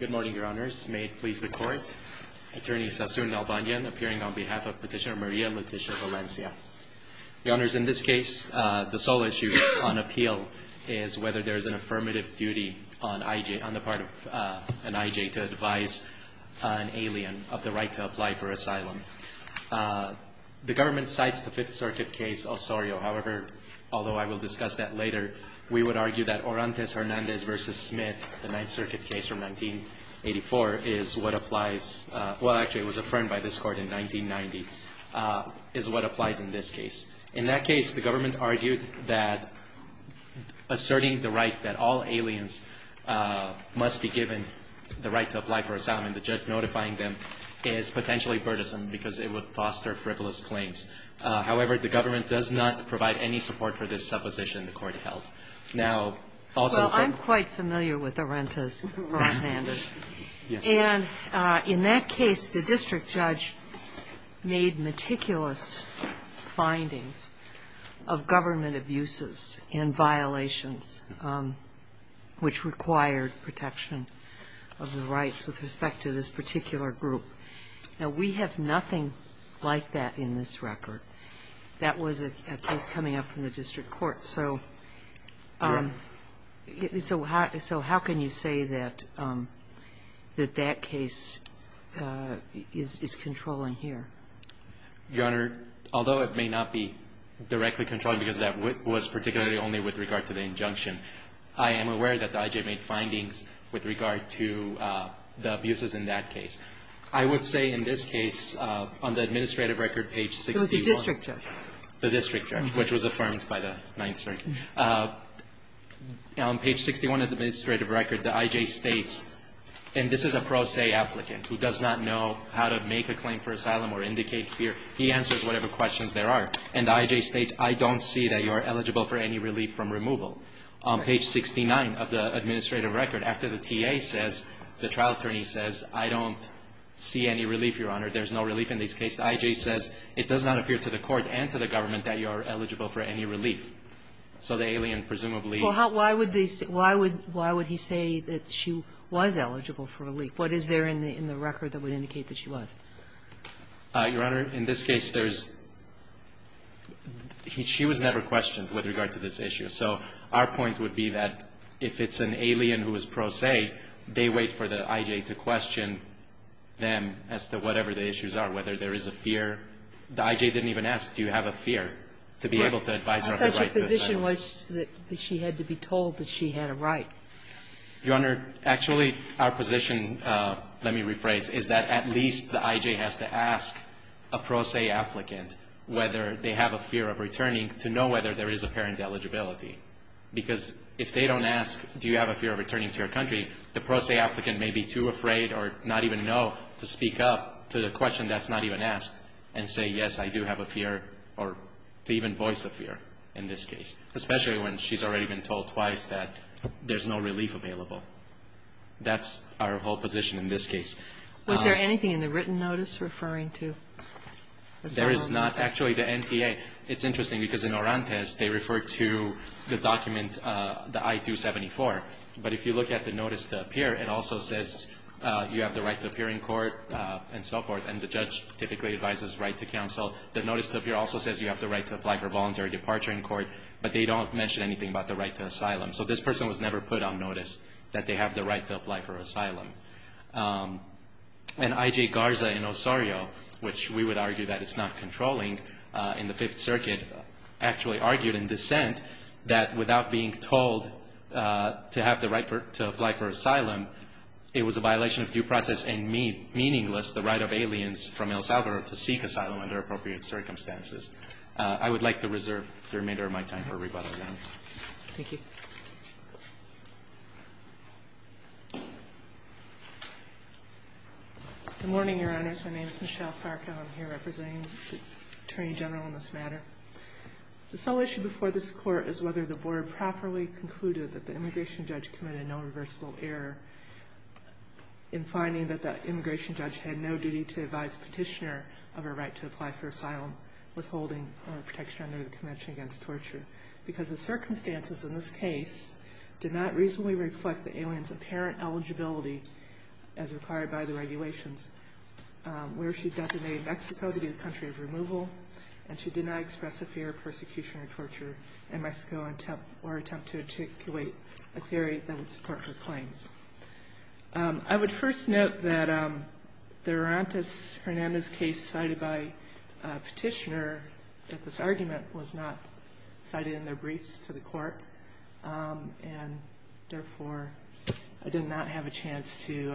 Good morning, your honors. May it please the court. Attorney Sassoon Nalbanyan appearing on behalf of Petitioner Maria and Petitioner Valencia. Your honors, in this case, the sole issue on appeal is whether there is an affirmative duty on the part of an IJ to advise an alien of the right to apply for asylum. The government cites the Fifth Circuit case Osorio, however, although I will discuss that later, we would argue that Orantes Hernandez v. Smith, the Ninth Circuit case from 1984, is what applies, well actually it was affirmed by this court in 1990, is what applies in this case. In that case, the government argued that asserting the right that all aliens must be given the right to apply for asylum and the judge notifying them is potentially burdensome because it would foster frivolous claims. However, the government does not provide any support for this supposition the court held. Now, also the court- Well, I'm quite familiar with Orantes Hernandez. Yes. And in that case, the district judge made meticulous findings of government abuses and violations which required protection of the rights with respect to this particular group. Now, we have nothing like that in this record. That was a case coming up from the district court. So how can you say that that case is controlling here? Your Honor, although it may not be directly controlling because that was particularly only with regard to the injunction, I am aware that the IJ made findings with regard to the abuses in that case. I would say in this case, on the administrative record, page 61- It was the district judge. The district judge, which was affirmed by the Ninth Circuit. On page 61 of the administrative record, the IJ states, and this is a pro se applicant who does not know how to make a claim for asylum or indicate fear. He answers whatever questions there are. And the IJ states, I don't see that you are eligible for any relief from removal. On page 69 of the administrative record, after the TA says, the trial attorney says, I don't see any relief, Your Honor, there's no relief in this case. The IJ says, it does not appear to the court and to the government that you are eligible for any relief. So the alien presumably- Well, why would they say why would he say that she was eligible for relief? What is there in the record that would indicate that she was? Your Honor, in this case, there's – she was never questioned with regard to this issue, so our point would be that if it's an alien who is pro se, they wait for the IJ to question them as to whatever the issues are, whether there is a fear. The IJ didn't even ask, do you have a fear, to be able to advise her of the right to asylum. I thought your position was that she had to be told that she had a right. Your Honor, actually, our position, let me rephrase, is that at least the IJ has to ask a pro se applicant whether they have a fear of returning to know whether there is apparent eligibility, because if they don't ask, do you have a fear of returning to your country, the pro se applicant may be too afraid or not even know to speak up to the question that's not even asked and say, yes, I do have a fear, or to even voice a fear in this case, especially when she's already been told twice that there's no relief available. That's our whole position in this case. Was there anything in the written notice referring to? There is not. Actually, the NTA, it's interesting, because in Orantes, they refer to the document, the I-274, but if you look at the notice to appear, it also says you have the right to appear in court and so forth, and the judge typically advises right to counsel. The notice to appear also says you have the right to apply for voluntary departure in court, but they don't mention anything about the right to asylum, so this person was never put on notice that they have the right to apply for asylum. And I.J. Garza in Osorio, which we would argue that it's not controlling in the Fifth Circuit, actually argued in dissent that without being told to have the right to apply for asylum, it was a violation of due process and meaningless the right of aliens from El Salvador to seek asylum under appropriate circumstances. I would like to reserve the remainder of my time for rebuttal. Thank you. Good morning, Your Honors. My name is Michelle Sarko. I'm here representing the Attorney General on this matter. The sole issue before this Court is whether the Board properly concluded that the immigration judge committed no reversible error in finding that the immigration judge had no duty to advise a petitioner of her right to apply for asylum withholding protection under the Convention Against Torture, because the circumstances in this case did not reasonably reflect the alien's apparent eligibility as required by the regulations, where she designated Mexico to be the country of removal, and she did not express a fear of persecution or torture in Mexico or attempt to articulate a theory that would support her claims. I would first note that the Hernandez case cited by a petitioner in this argument was not cited in their briefs to the Court, and therefore I did not have a chance to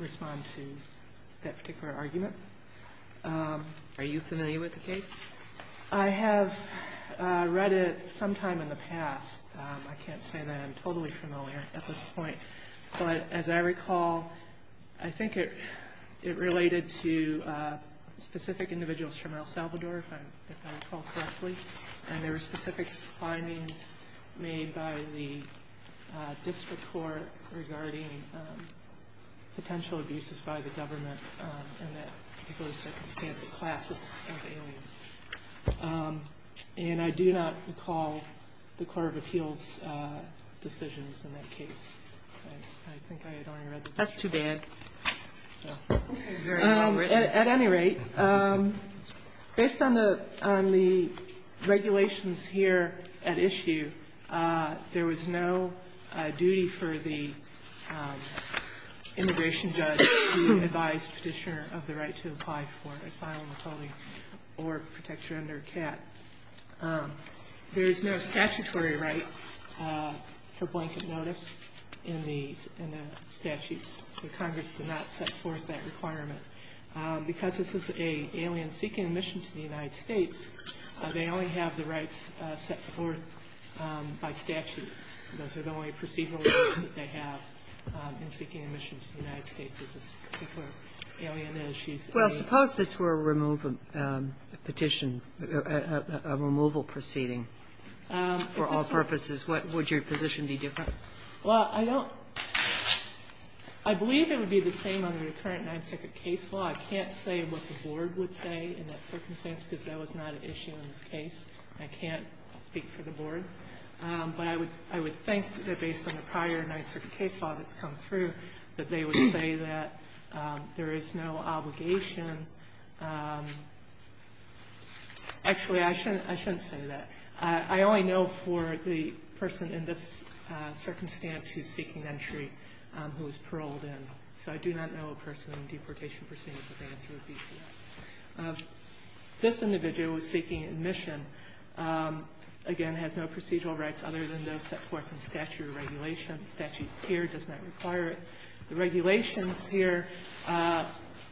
respond to that particular argument. Are you familiar with the case? I have read it sometime in the past. I can't say that I'm totally familiar at this point. But as I recall, I think it related to specific individuals from El Salvador, if I recall correctly, and there were specific findings made by the district court regarding potential abuses by the government and that people of the circumstantial class of aliens. And I do not recall the Court of Appeals' decisions in that case. I think I had only read the district court. That's too bad. At any rate, based on the regulations here at issue, there was no duty for the immigration judge to advise petitioner of the right to apply for asylum, asylum or protection under CAT. There is no statutory right for blanket notice in the statutes. The Congress did not set forth that requirement. Because this is an alien seeking admission to the United States, they only have the rights set forth by statute. Those are the only procedural rights that they have in seeking admission to the United States. This particular alien is, she's an alien. Well, suppose this were a removal petition, a removal proceeding for all purposes, would your position be different? Well, I believe it would be the same under the current Ninth Circuit case law. I can't say what the board would say in that circumstance because that was not an issue in this case. I can't speak for the board. But I would think that based on the prior Ninth Circuit case law that's come through that they would say that there is no obligation. Actually, I shouldn't say that. I only know for the person in this circumstance who's seeking entry who was paroled in. So I do not know a person in deportation proceedings what the answer would be to that. This individual who's seeking admission, again, has no procedural rights other than those set forth in statutory regulation. The statute here does not require it. The regulations here,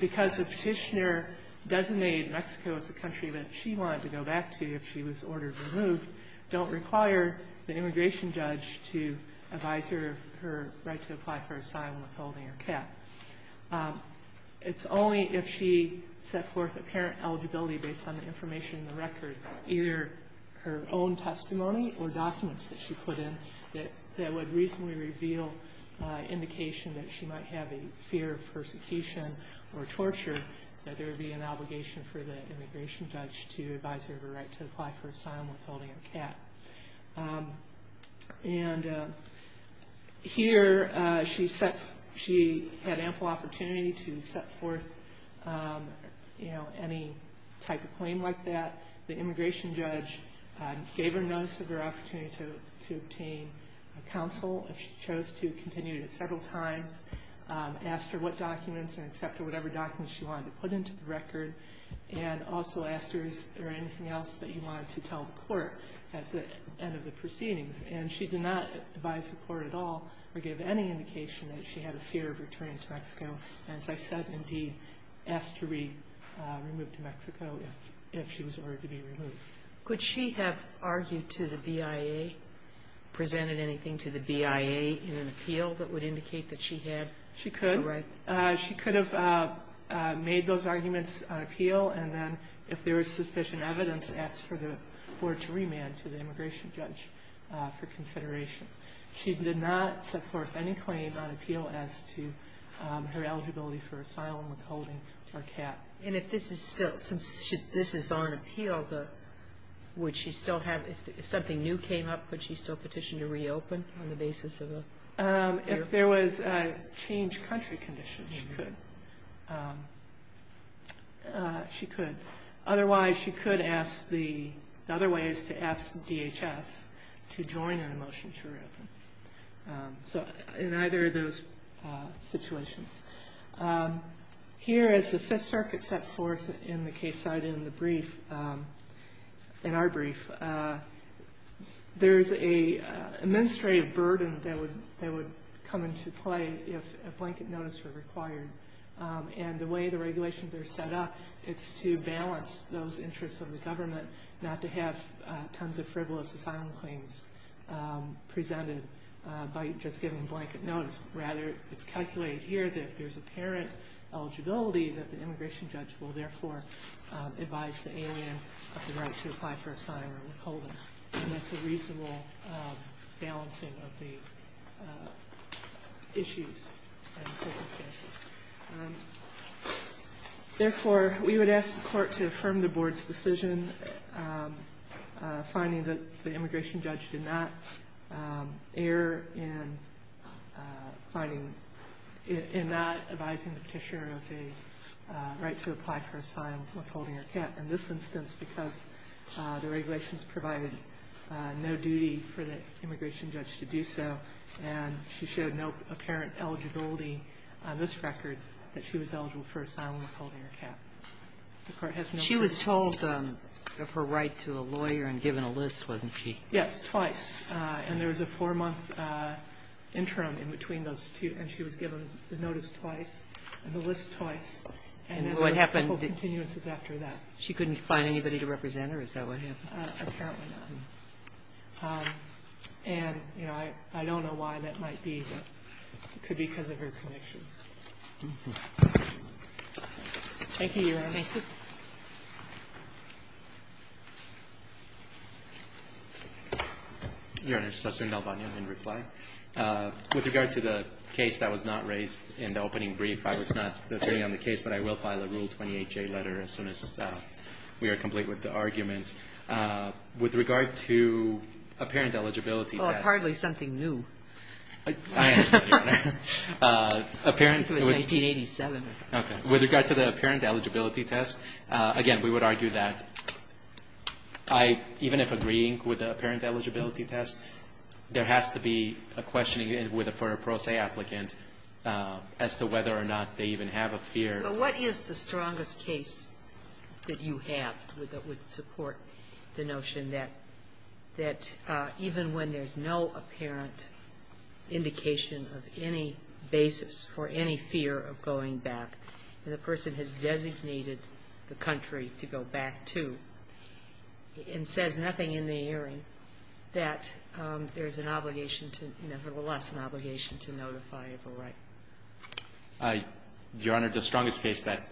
because the petitioner designated Mexico as the country that she wanted to go back to if she was ordered removed, don't require the immigration judge to advise her of her right to apply for asylum withholding her cap. It's only if she set forth apparent eligibility based on the information in the record, either her own testimony or documents that she put in, that would reasonably reveal indication that she might have a fear of persecution or torture, that there would be an obligation for the immigration judge to advise her of her right to apply for asylum withholding her cap. And here she had ample opportunity to set forth any type of claim like that. The immigration judge gave her notice of her opportunity to obtain counsel if she chose to, continued it several times, asked her what documents and accepted whatever documents she wanted to put into the record, and also asked her is there anything else that you wanted to tell the court at the end of the proceedings. And she did not advise the court at all or give any indication that she had a fear of returning to Mexico, and as I said, indeed, asked to be removed to Mexico if she was ordered to be removed. Sotomayor Could she have argued to the BIA, presented anything to the BIA in an appeal that would indicate that she had a right? She could have made those arguments on appeal, and then if there was sufficient evidence, asked for the court to remand to the immigration judge for consideration. She did not set forth any claim on appeal as to her eligibility for asylum withholding her cap. Sotomayor And if this is still, since this is on appeal, would she still have, if something new came up, would she still petition to reopen on the basis of a changed country condition? She could. She could. Otherwise, she could ask the other ways to ask DHS to join in a motion to reopen. So in either of those situations. Here is the Fifth Circuit set forth in the case cited in the brief, in our brief, there is a administrative burden that would come into play if a blanket notice were required. And the way the regulations are set up, it's to balance those interests of the government, not to have tons of frivolous asylum claims presented by just giving blanket notice. Rather, it's calculated here that if there's apparent eligibility, that the immigration judge will therefore advise the ANN of the right to apply for asylum withholding. And that's a reasonable balancing of the issues and circumstances. Therefore, we would ask the court to affirm the board's decision, finding that the immigration judge did not err in finding, in not advising the petitioner of a right to apply for asylum withholding or cap. In this instance, because the regulations provided no duty for the immigration judge to do so, and she showed no apparent eligibility on this record, that she was eligible for asylum withholding or cap. The court has no reason. She was told of her right to a lawyer and given a list, wasn't she? Yes, twice. And there was a four-month interim in between those two, and she was given the notice twice and the list twice. And what happened? And there were a couple of continuances after that. She couldn't find anybody to represent her? Is that what happened? Apparently not. And, you know, I don't know why that might be, but it could be because of her conviction. Thank you, Your Honor. Thank you. Your Honor, Justice Sotomayor, in reply. With regard to the case that was not raised in the opening brief, I was not there on the case, but I will file a Rule 28J letter as soon as we are complete with the arguments. With regard to apparent eligibility. Well, it's hardly something new. I understand. It was 1987. Okay. With regard to the apparent eligibility test, again, we would argue that I, even if agreeing with the apparent eligibility test, there has to be a questioning for a pro se applicant as to whether or not they even have a fear. Well, what is the strongest case that you have that would support the notion that even when there's no apparent indication of any basis for any fear of going back and the person has designated the country to go back to and says nothing in the hearing that there's an obligation to, nevertheless, an obligation to notify of a right? Your Honor, the strongest case that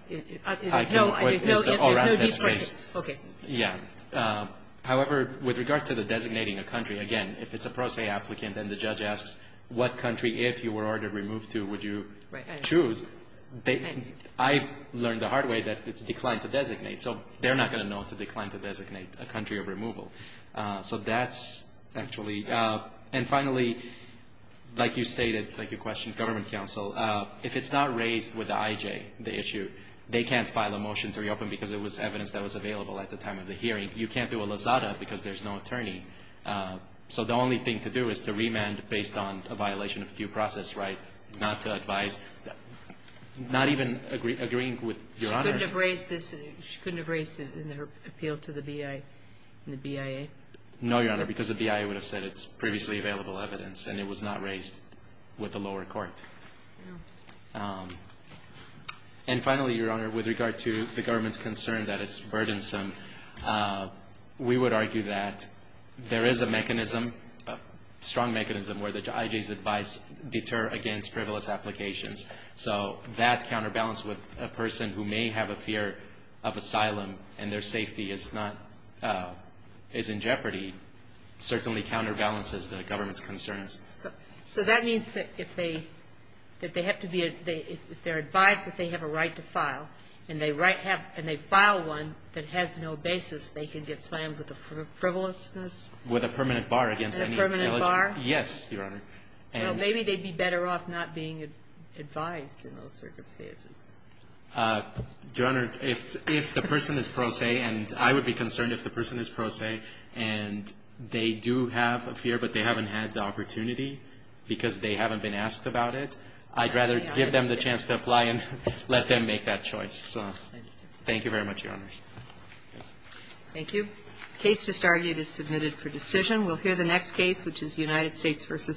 I can raise is the O'Rourke case. Okay. Yeah. However, with regard to the designating a country, again, if it's a pro se applicant and the judge asks what country, if you were ordered removed to, would you choose, I learned the hard way that it's declined to designate. So they're not going to know to decline to designate a country of removal. So that's actually. And finally, like you stated, like you questioned government counsel, if it's not raised with the IJ, the issue, they can't file a motion to reopen because it was evidence that was available at the time of the hearing. You can't do a lazada because there's no attorney. So the only thing to do is to remand based on a violation of due process, right, not to advise, not even agreeing with Your Honor. She couldn't have raised it in her appeal to the BIA and the BIA? No, Your Honor, because the BIA would have said it's previously available evidence and it was not raised with the lower court. And finally, Your Honor, with regard to the government's concern that it's burdensome, we would argue that there is a mechanism, a strong mechanism, where the IJ's advice deter against frivolous applications. So that counterbalance with a person who may have a fear of asylum and their safety is not, is in jeopardy, certainly counterbalances the government's concerns. So that means that if they have to be, if they're advised that they have a right to file and they file one that has no basis, they can get slammed with a frivolousness? With a permanent bar against any illegitimate. A permanent bar? Yes, Your Honor. Well, maybe they'd be better off not being advised in those circumstances. Your Honor, if the person is pro se, and I would be concerned if the person is pro se, and they do have a fear but they haven't had the opportunity because they haven't been asked about it, I'd rather give them the chance to apply and let them make that choice. So thank you very much, Your Honors. Thank you. The case just argued is submitted for decision. We'll hear the next case, which is United States v. State.